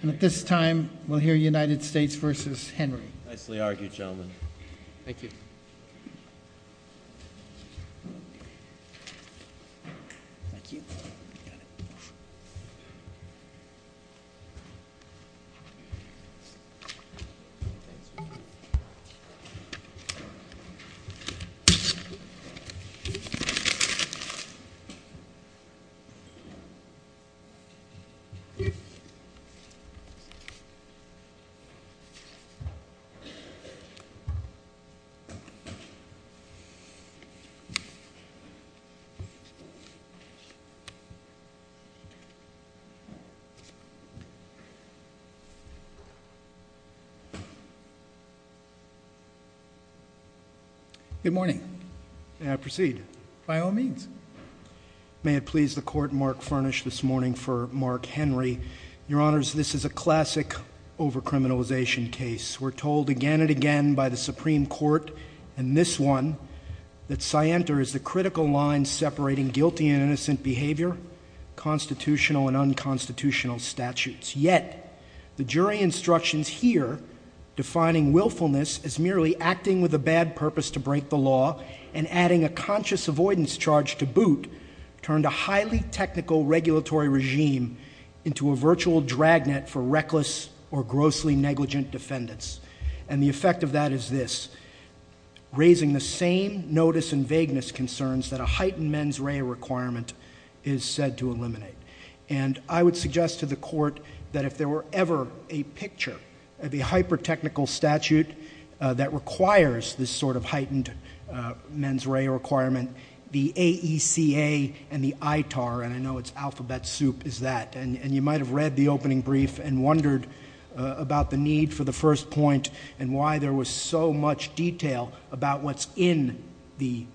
And at this time, we'll hear United States v. Henry. Nicely argued, gentlemen. Thank you. Good morning. May I proceed? By all means. May it please the Court, Mark Furnish this morning for Mark Henry. Your Honors, this is a classic over-criminalization case. We're told again and again by the Supreme Court, and this one, that Sienta is the critical line separating guilty and innocent behavior, constitutional and unconstitutional statutes. Yet the jury instructions here, defining willfulness as merely acting with a bad purpose to break the law and adding a conscious avoidance charge to boot, turned a highly technical regulatory regime into a virtual drag net for reckless or grossly negligent defendants. And the effect of that is this, raising the same notice and vagueness concerns that a heightened mens rea requirement is said to eliminate. And I would suggest to the Court that if there were ever a picture of the hyper-technical statute that requires this sort of heightened mens rea requirement, the AECA and the ITAR, and I know it's alphabet soup, is that. And you might have read the opening brief and wondered about the need for the first point and why there was so much detail about what's in the,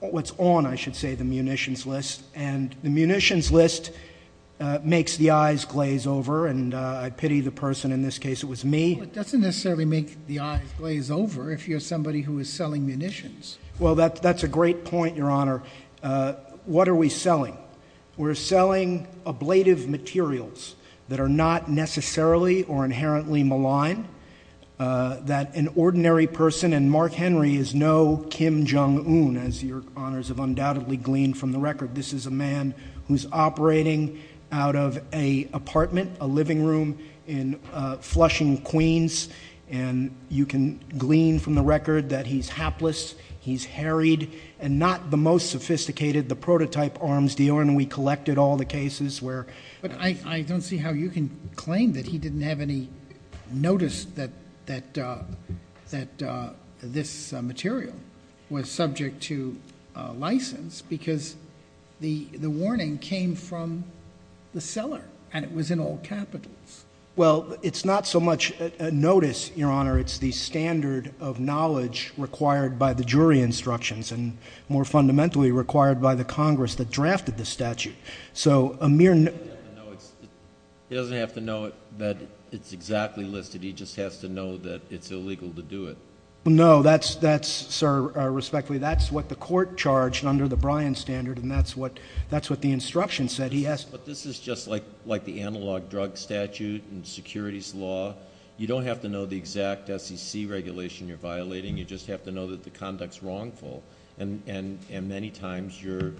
what's on, I should say, the munitions list. And the munitions list makes the eyes glaze over, and I pity the person in this case. It was me. Well, it doesn't necessarily make the eyes glaze over if you're somebody who is selling munitions. Well, that's a great point, Your Honor. What are we selling? We're selling ablative materials that are not necessarily or inherently malign, that an ordinary person, and Mark Henry is no Kim Jong-un, as Your Honors have undoubtedly gleaned from the record. This is a man who's operating out of an apartment, a living room in Flushing, Queens, and you can glean from the record that he's hapless, he's harried, and not the most sophisticated, the prototype arms dealer, and we collected all the cases where. But I don't see how you can claim that he didn't have any notice that this material was subject to license because the warning came from the seller and it was in all capitals. Well, it's not so much a notice, Your Honor. It's the standard of knowledge required by the jury instructions and more fundamentally required by the Congress that drafted the statute. So a mere notice. He doesn't have to know that it's exactly listed. He just has to know that it's illegal to do it. No, that's, sir, respectfully, that's what the court charged under the Bryan standard, and that's what the instruction said. But this is just like the analog drug statute and securities law. You don't have to know the exact SEC regulation you're violating. You just have to know that the conduct's wrongful, and many times the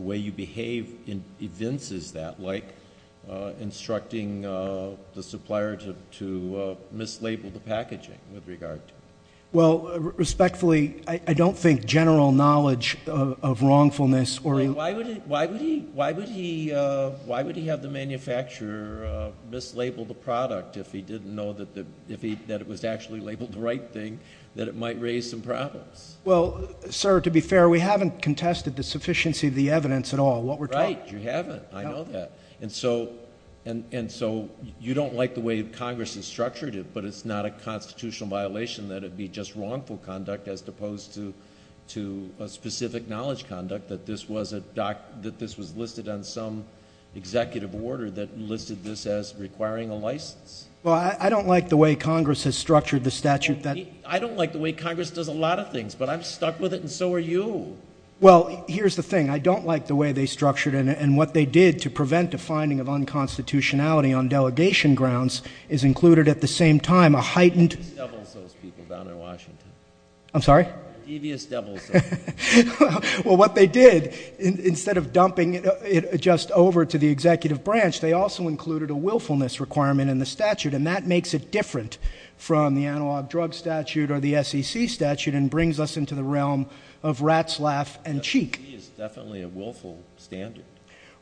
way you behave evinces that, like instructing the supplier to mislabel the packaging with regard to it. Well, respectfully, I don't think general knowledge of wrongfulness or anything. Why would he have the manufacturer mislabel the product if he didn't know that it was actually labeled the right thing, that it might raise some problems? Well, sir, to be fair, we haven't contested the sufficiency of the evidence at all. Right, you haven't. I know that. And so you don't like the way Congress has structured it, but it's not a constitutional violation that it be just wrongful conduct as opposed to a specific knowledge conduct, that this was listed on some executive order that listed this as requiring a license. Well, I don't like the way Congress has structured the statute. I don't like the way Congress does a lot of things, but I'm stuck with it, and so are you. Well, here's the thing. I don't like the way they structured it, and what they did to prevent a finding of unconstitutionality on delegation grounds is included at the same time a heightened— Devious devils, those people down in Washington. I'm sorry? Devious devils. Well, what they did, instead of dumping it just over to the executive branch, they also included a willfulness requirement in the statute, and that makes it different from the analog drug statute or the SEC statute and brings us into the realm of rat's laugh and cheek. SEC is definitely a willful standard.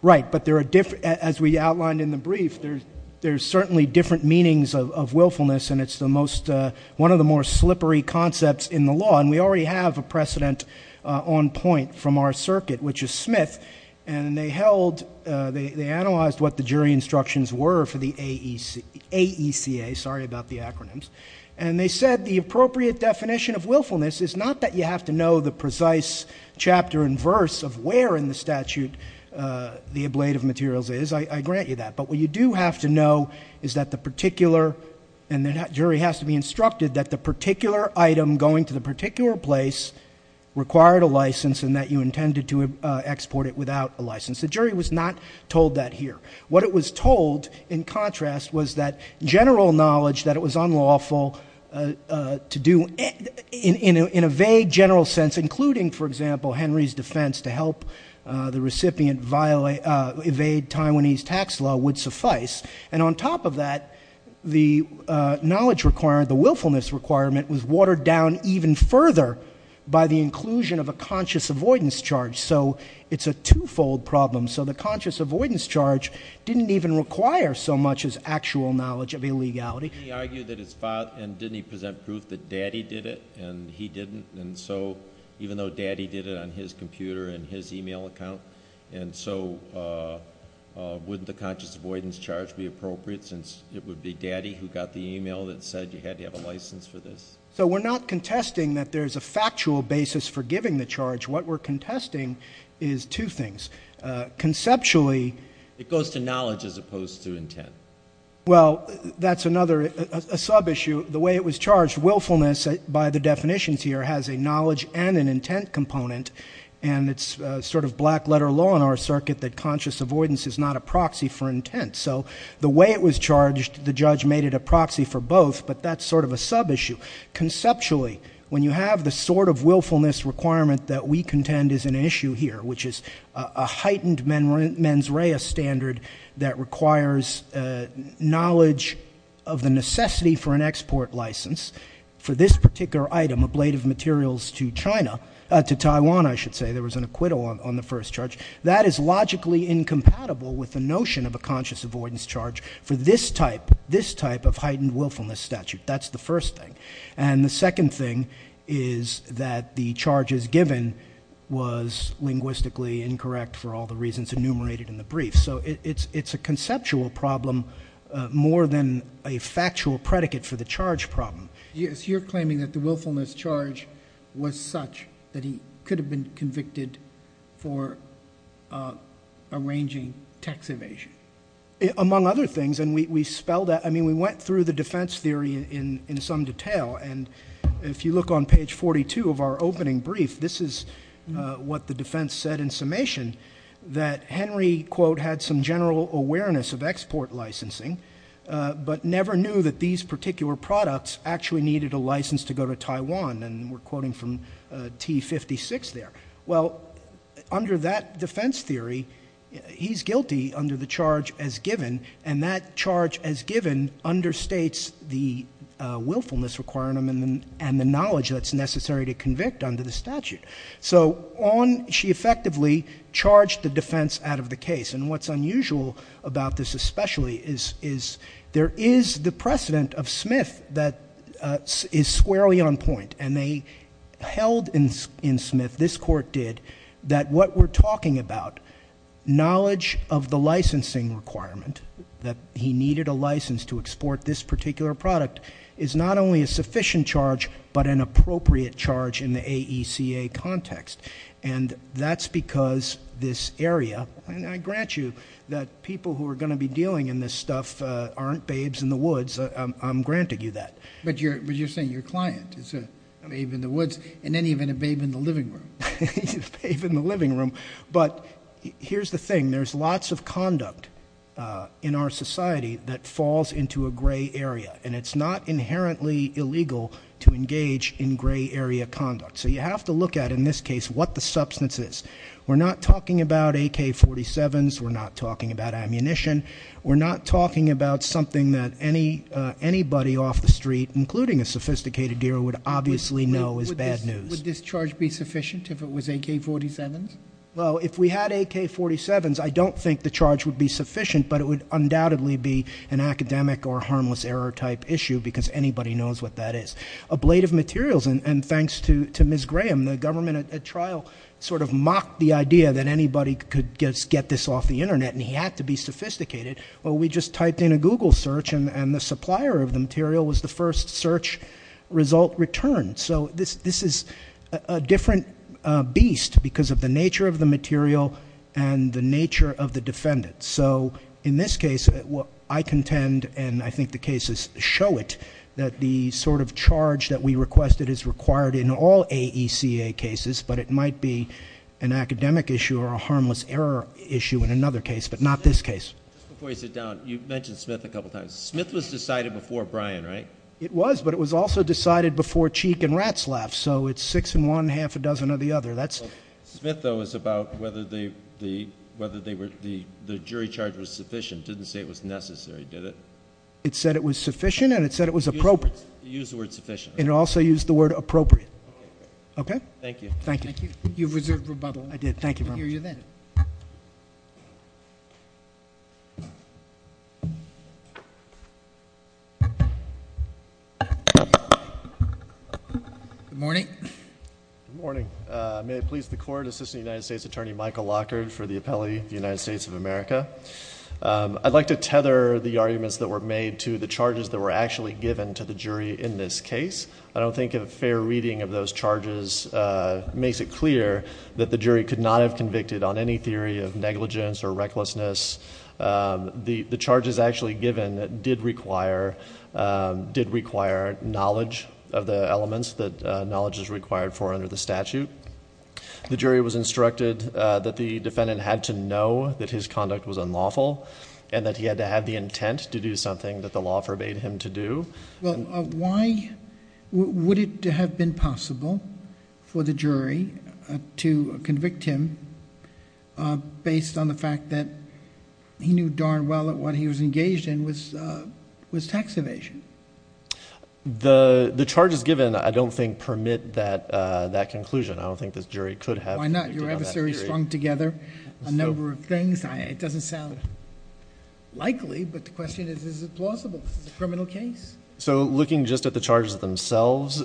Right, but as we outlined in the brief, there's certainly different meanings of willfulness, and it's the most—one of the more slippery concepts in the law, and we already have a precedent on point from our circuit, which is Smith, and they held—they analyzed what the jury instructions were for the AECA. Sorry about the acronyms. And they said the appropriate definition of willfulness is not that you have to know the precise chapter and verse of where in the statute the ablative materials is. I grant you that. But what you do have to know is that the particular— and the jury has to be instructed that the particular item going to the particular place required a license and that you intended to export it without a license. The jury was not told that here. What it was told, in contrast, was that general knowledge that it was unlawful to do in a vague general sense, including, for example, Henry's defense to help the recipient evade Taiwanese tax law would suffice. And on top of that, the knowledge requirement, the willfulness requirement, was watered down even further by the inclusion of a conscious avoidance charge. So it's a twofold problem. So the conscious avoidance charge didn't even require so much as actual knowledge of illegality. He argued that his father—and didn't he present proof that daddy did it, and he didn't, and so even though daddy did it on his computer and his e-mail account, and so wouldn't the conscious avoidance charge be appropriate since it would be daddy who got the e-mail that said you had to have a license for this? So we're not contesting that there's a factual basis for giving the charge. What we're contesting is two things. Conceptually— It goes to knowledge as opposed to intent. Well, that's another sub-issue. The way it was charged, willfulness, by the definitions here, has a knowledge and an intent component, and it's sort of black-letter law in our circuit that conscious avoidance is not a proxy for intent. So the way it was charged, the judge made it a proxy for both, but that's sort of a sub-issue. Conceptually, when you have the sort of willfulness requirement that we contend is an issue here, which is a heightened mens rea standard that requires knowledge of the necessity for an export license for this particular item, a blade of materials to China—to Taiwan, I should say. There was an acquittal on the first charge. That is logically incompatible with the notion of a conscious avoidance charge for this type, this type of heightened willfulness statute. That's the first thing. And the second thing is that the charges given was linguistically incorrect for all the reasons enumerated in the brief. So it's a conceptual problem more than a factual predicate for the charge problem. You're claiming that the willfulness charge was such that he could have been convicted for arranging tax evasion. Among other things, and we spelled out—I mean, we went through the defense theory in some detail, and if you look on page 42 of our opening brief, this is what the defense said in summation, that Henry, quote, had some general awareness of export licensing, but never knew that these particular products actually needed a license to go to Taiwan, and we're quoting from T56 there. Well, under that defense theory, he's guilty under the charge as given, and that charge as given understates the willfulness requirement and the knowledge that's necessary to convict under the statute. So she effectively charged the defense out of the case, and what's unusual about this especially is there is the precedent of Smith that is squarely on point, and they held in Smith, this court did, that what we're talking about, knowledge of the licensing requirement, that he needed a license to export this particular product, is not only a sufficient charge but an appropriate charge in the AECA context, and that's because this area—and I grant you that people who are going to be dealing in this stuff aren't babes in the woods. I'm granting you that. But you're saying your client is a babe in the woods and then even a babe in the living room. A babe in the living room, but here's the thing. There's lots of conduct in our society that falls into a gray area, and it's not inherently illegal to engage in gray area conduct. So you have to look at, in this case, what the substance is. We're not talking about AK-47s. We're not talking about ammunition. We're not talking about something that anybody off the street, including a sophisticated dealer, would obviously know is bad news. Would this charge be sufficient if it was AK-47s? Well, if we had AK-47s, I don't think the charge would be sufficient, but it would undoubtedly be an academic or harmless error type issue because anybody knows what that is. Ablative materials, and thanks to Ms. Graham, the government at trial sort of mocked the idea that anybody could get this off the Internet, and he had to be sophisticated. Well, we just typed in a Google search, and the supplier of the material was the first search result returned. So this is a different beast because of the nature of the material and the nature of the defendant. So in this case, I contend, and I think the cases show it, that the sort of charge that we requested is required in all AECA cases, but it might be an academic issue or a harmless error issue in another case, but not this case. Just before you sit down, you mentioned Smith a couple times. Smith was decided before Bryan, right? It was, but it was also decided before Cheek and Ratzlaff, so it's six in one, half a dozen of the other. Smith, though, was about whether the jury charge was sufficient. It didn't say it was necessary, did it? It said it was sufficient and it said it was appropriate. You used the word sufficient. And it also used the word appropriate. Okay. Thank you. Thank you. You've reserved rebuttal. I did. Thank you very much. We'll hear you then. Good morning. May it please the Court, Assistant United States Attorney Michael Lockhart for the appellee of the United States of America. I'd like to tether the arguments that were made to the charges that were actually given to the jury in this case. I don't think a fair reading of those charges makes it clear that the jury could not have convicted on any theory of negligence or recklessness. The charges actually given did require knowledge of the elements that knowledge is required for under the statute. The jury was instructed that the defendant had to know that his conduct was unlawful and that he had to have the intent to do something that the law forbade him to do. Why would it have been possible for the jury to convict him based on the fact that he knew darn well that what he was engaged in was tax evasion? The charges given, I don't think, permit that conclusion. I don't think this jury could have... Why not? Your adversary slung together a number of things. It doesn't sound likely, but the question is, is it plausible? It's a criminal case. Looking just at the charges themselves,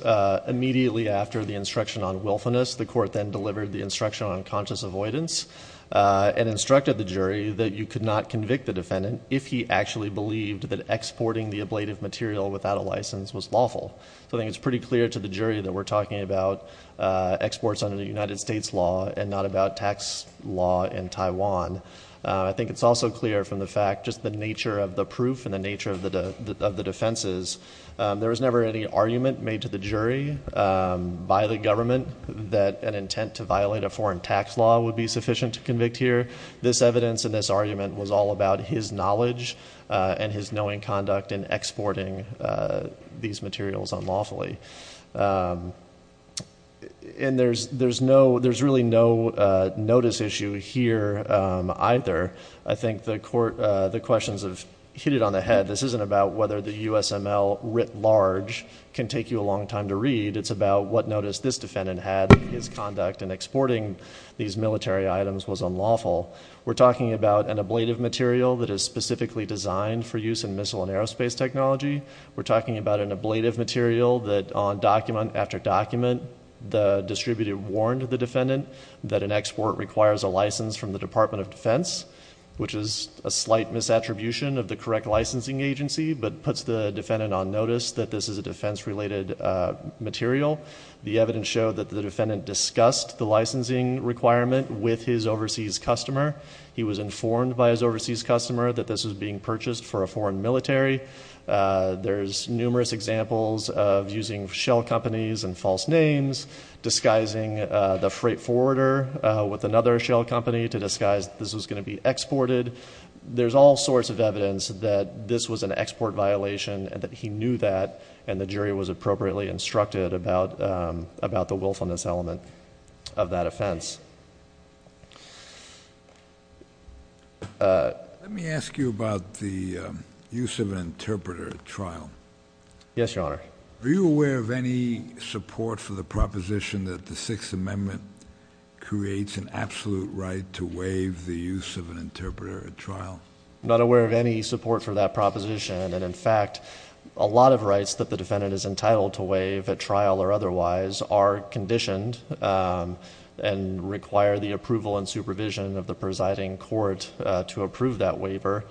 immediately after the instruction on willfulness, the court then delivered the instruction on conscious avoidance and instructed the jury that you could not convict the defendant if he actually believed that exporting the ablative material without a license was lawful. I think it's pretty clear to the jury that we're talking about exports under the United States law and not about tax law in Taiwan. I think it's also clear from the fact, just the nature of the proof and the nature of the defenses, there was never any argument made to the jury by the government that an intent to violate a foreign tax law would be sufficient to convict here. This evidence and this argument was all about his knowledge and his knowing conduct in exporting these materials unlawfully. There's really no notice issue here either. I think the questions have hit it on the head. This isn't about whether the USML writ large can take you a long time to read. It's about what notice this defendant had in his conduct in exporting these military items was unlawful. We're talking about an ablative material that is specifically designed for use in missile and aerospace technology. We're talking about an ablative material that on document after document, the distributor warned the defendant that an export requires a license from the Department of Defense, which is a slight misattribution of the correct licensing agency, but puts the defendant on notice that this is a defense-related material. The evidence showed that the defendant discussed the licensing requirement with his overseas customer. He was informed by his overseas customer that this was being purchased for a foreign military. There's numerous examples of using shell companies and false names, disguising the freight forwarder with another shell company to disguise this was going to be exported. There's all sorts of evidence that this was an export violation and that he knew that, and the jury was appropriately instructed about the willfulness element of that offense. Let me ask you about the use of an interpreter at trial. Yes, Your Honor. Are you aware of any support for the proposition that the Sixth Amendment creates an absolute right to waive the use of an interpreter at trial? I'm not aware of any support for that proposition, and in fact, a lot of rights that the defendant is entitled to waive at trial or otherwise are conditioned and require the approval and supervision of the presiding court to approve that waiver.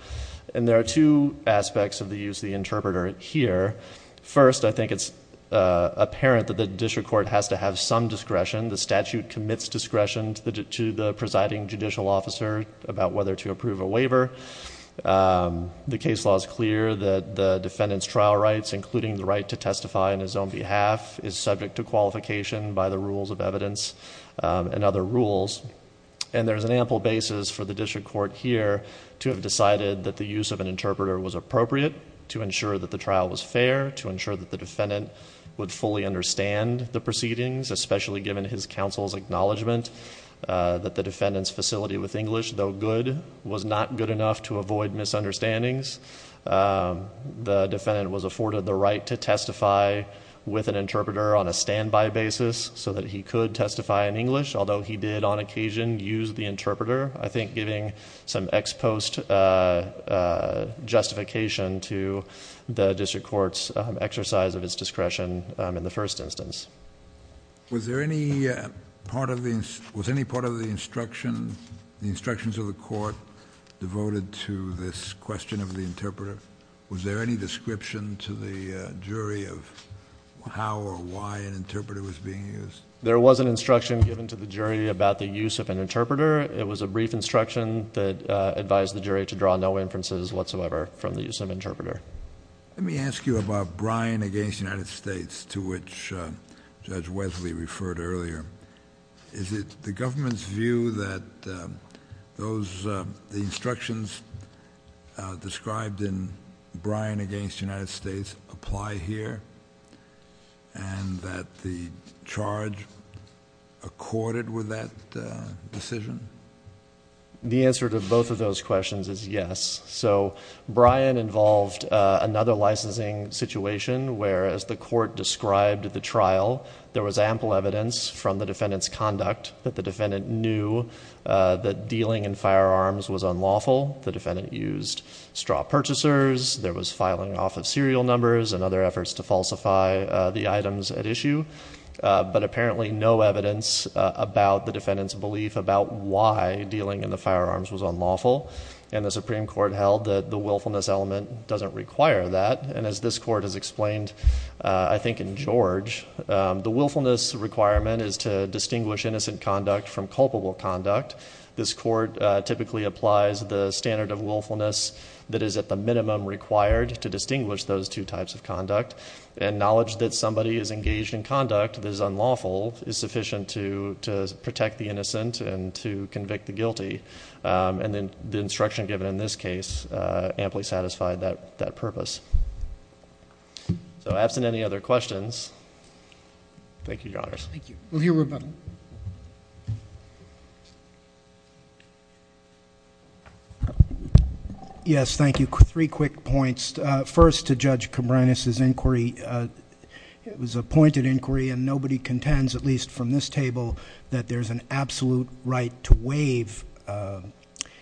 There are two aspects of the use of the interpreter here. First, I think it's apparent that the district court has to have some discretion. The statute commits discretion to the presiding judicial officer about whether to approve a waiver. The case law is clear that the defendant's trial rights, including the right to testify on his own behalf, is subject to qualification by the rules of evidence and other rules, and there's an ample basis for the district court here to have decided that the use of an interpreter was appropriate, to ensure that the trial was fair, to ensure that the defendant would fully understand the proceedings, especially given his counsel's acknowledgment that the defendant's facility with English, though good, was not good enough to avoid misunderstandings. The defendant was afforded the right to testify with an interpreter on a standby basis, so that he could testify in English, although he did on occasion use the interpreter, I think giving some ex post justification to the district court's exercise of its discretion in the first instance. Was there any part of the instruction, the instructions of the court devoted to this question of the interpreter? Was there any description to the jury of how or why an interpreter was being used? There was an instruction given to the jury about the use of an interpreter. It was a brief instruction that advised the jury to draw no inferences whatsoever from the use of an interpreter. Let me ask you about Bryan v. United States, to which Judge Wesley referred earlier. Is it the government's view that the instructions described in Bryan v. United States apply here, and that the charge accorded with that decision? The answer to both of those questions is yes. Bryan involved another licensing situation where, as the court described at the trial, there was ample evidence from the defendant's conduct that the defendant knew that dealing in firearms was unlawful. The defendant used straw purchasers. There was filing off of serial numbers and other efforts to falsify the items at issue, but apparently no evidence about the defendant's belief about why dealing in the firearms was unlawful. And the Supreme Court held that the willfulness element doesn't require that. And as this court has explained, I think, in George, the willfulness requirement is to distinguish innocent conduct from culpable conduct. This court typically applies the standard of willfulness that is at the minimum required to distinguish those two types of conduct. And knowledge that somebody is engaged in conduct that is unlawful is sufficient to protect the innocent and to convict the guilty. And the instruction given in this case amply satisfied that purpose. So absent any other questions, thank you, Your Honors. Thank you. We'll hear rebuttal. Yes, thank you. Three quick points. First, to Judge Cabranes' inquiry, it was a pointed inquiry, and nobody contends, at least from this table, that there's an absolute right to waive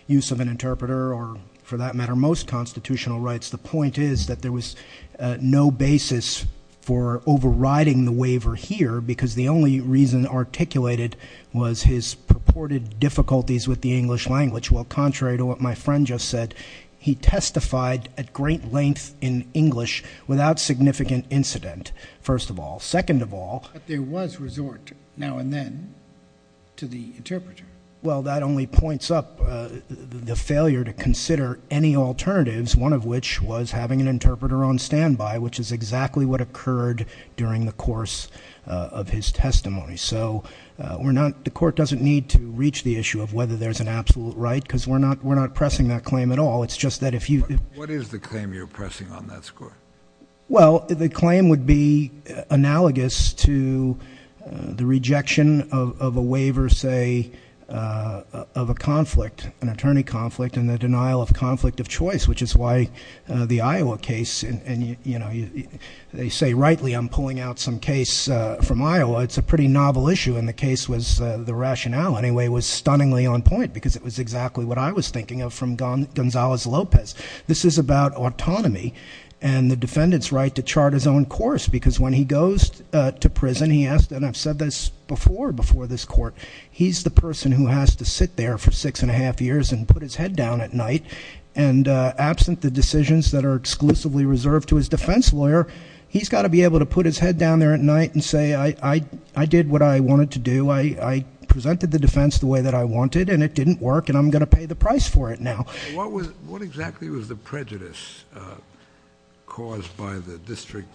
use of an interpreter, or for that matter, most constitutional rights. The point is that there was no basis for overriding the waiver here, because the only reason articulated was his purported difficulties with the English language. Well, contrary to what my friend just said, he testified at great length in English without significant incident, first of all. Second of all. But there was resort now and then to the interpreter. Well, that only points up the failure to consider any alternatives, one of which was having an interpreter on standby, which is exactly what occurred during the course of his testimony. So the Court doesn't need to reach the issue of whether there's an absolute right, because we're not pressing that claim at all. It's just that if you ---- What is the claim you're pressing on that score? Well, the claim would be analogous to the rejection of a waiver, say, of a conflict, an attorney conflict, and the denial of conflict of choice, which is why the Iowa case, and, you know, they say rightly I'm pulling out some case from Iowa. It's a pretty novel issue, and the case was, the rationale, anyway, was stunningly on point, because it was exactly what I was thinking of from Gonzalez-Lopez. This is about autonomy and the defendant's right to chart his own course, because when he goes to prison, he has to, and I've said this before before this Court, he's the person who has to sit there for six and a half years and put his head down at night, and absent the decisions that are exclusively reserved to his defense lawyer, he's got to be able to put his head down there at night and say, I did what I wanted to do. I presented the defense the way that I wanted, and it didn't work, and I'm going to pay the price for it now. What exactly was the prejudice caused by the district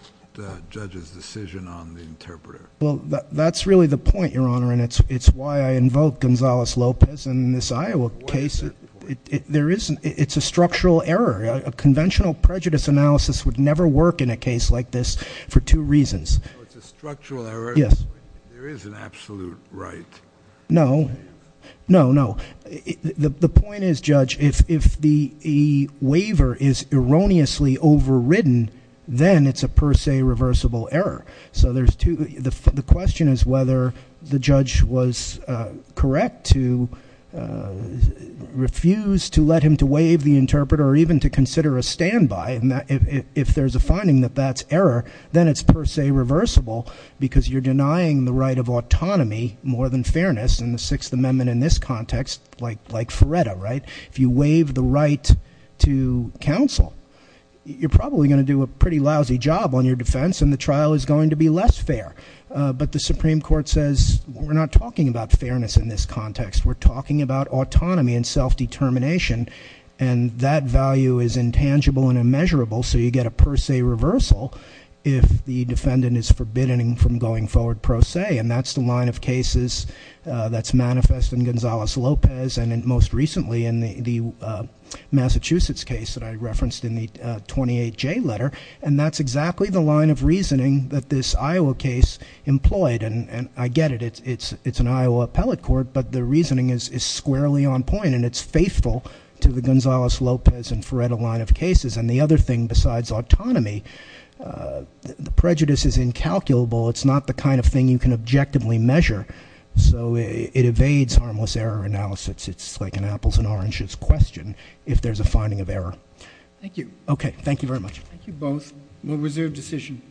judge's decision on the interpreter? Well, that's really the point, Your Honor, and it's why I invoke Gonzalez-Lopez in this Iowa case. It's a structural error. A conventional prejudice analysis would never work in a case like this for two reasons. It's a structural error. Yes. There is an absolute right. No. No, no. The point is, Judge, if the waiver is erroneously overridden, then it's a per se reversible error. So there's two, the question is whether the judge was correct to refuse to let him to waive the interpreter or even to consider a standby. And if there's a finding that that's error, then it's per se reversible, because you're denying the right of autonomy more than fairness in the Sixth Amendment in this context, like Feretta, right? If you waive the right to counsel, you're probably going to do a pretty lousy job on your defense, and the trial is going to be less fair. But the Supreme Court says, we're not talking about fairness in this context. We're talking about autonomy and self-determination, and that value is intangible and immeasurable. So you get a per se reversal if the defendant is forbidden from going forward pro se. And that's the line of cases that's manifest in Gonzalez-Lopez and most recently in the Massachusetts case that I referenced in the 28J letter. And that's exactly the line of reasoning that this Iowa case employed. And I get it, it's an Iowa appellate court, but the reasoning is squarely on point. And it's faithful to the Gonzalez-Lopez and Feretta line of cases. And the other thing besides autonomy, the prejudice is incalculable. It's not the kind of thing you can objectively measure, so it evades harmless error analysis. It's like an apples and oranges question if there's a finding of error. Thank you. Okay, thank you very much. Thank you both. We'll reserve decision.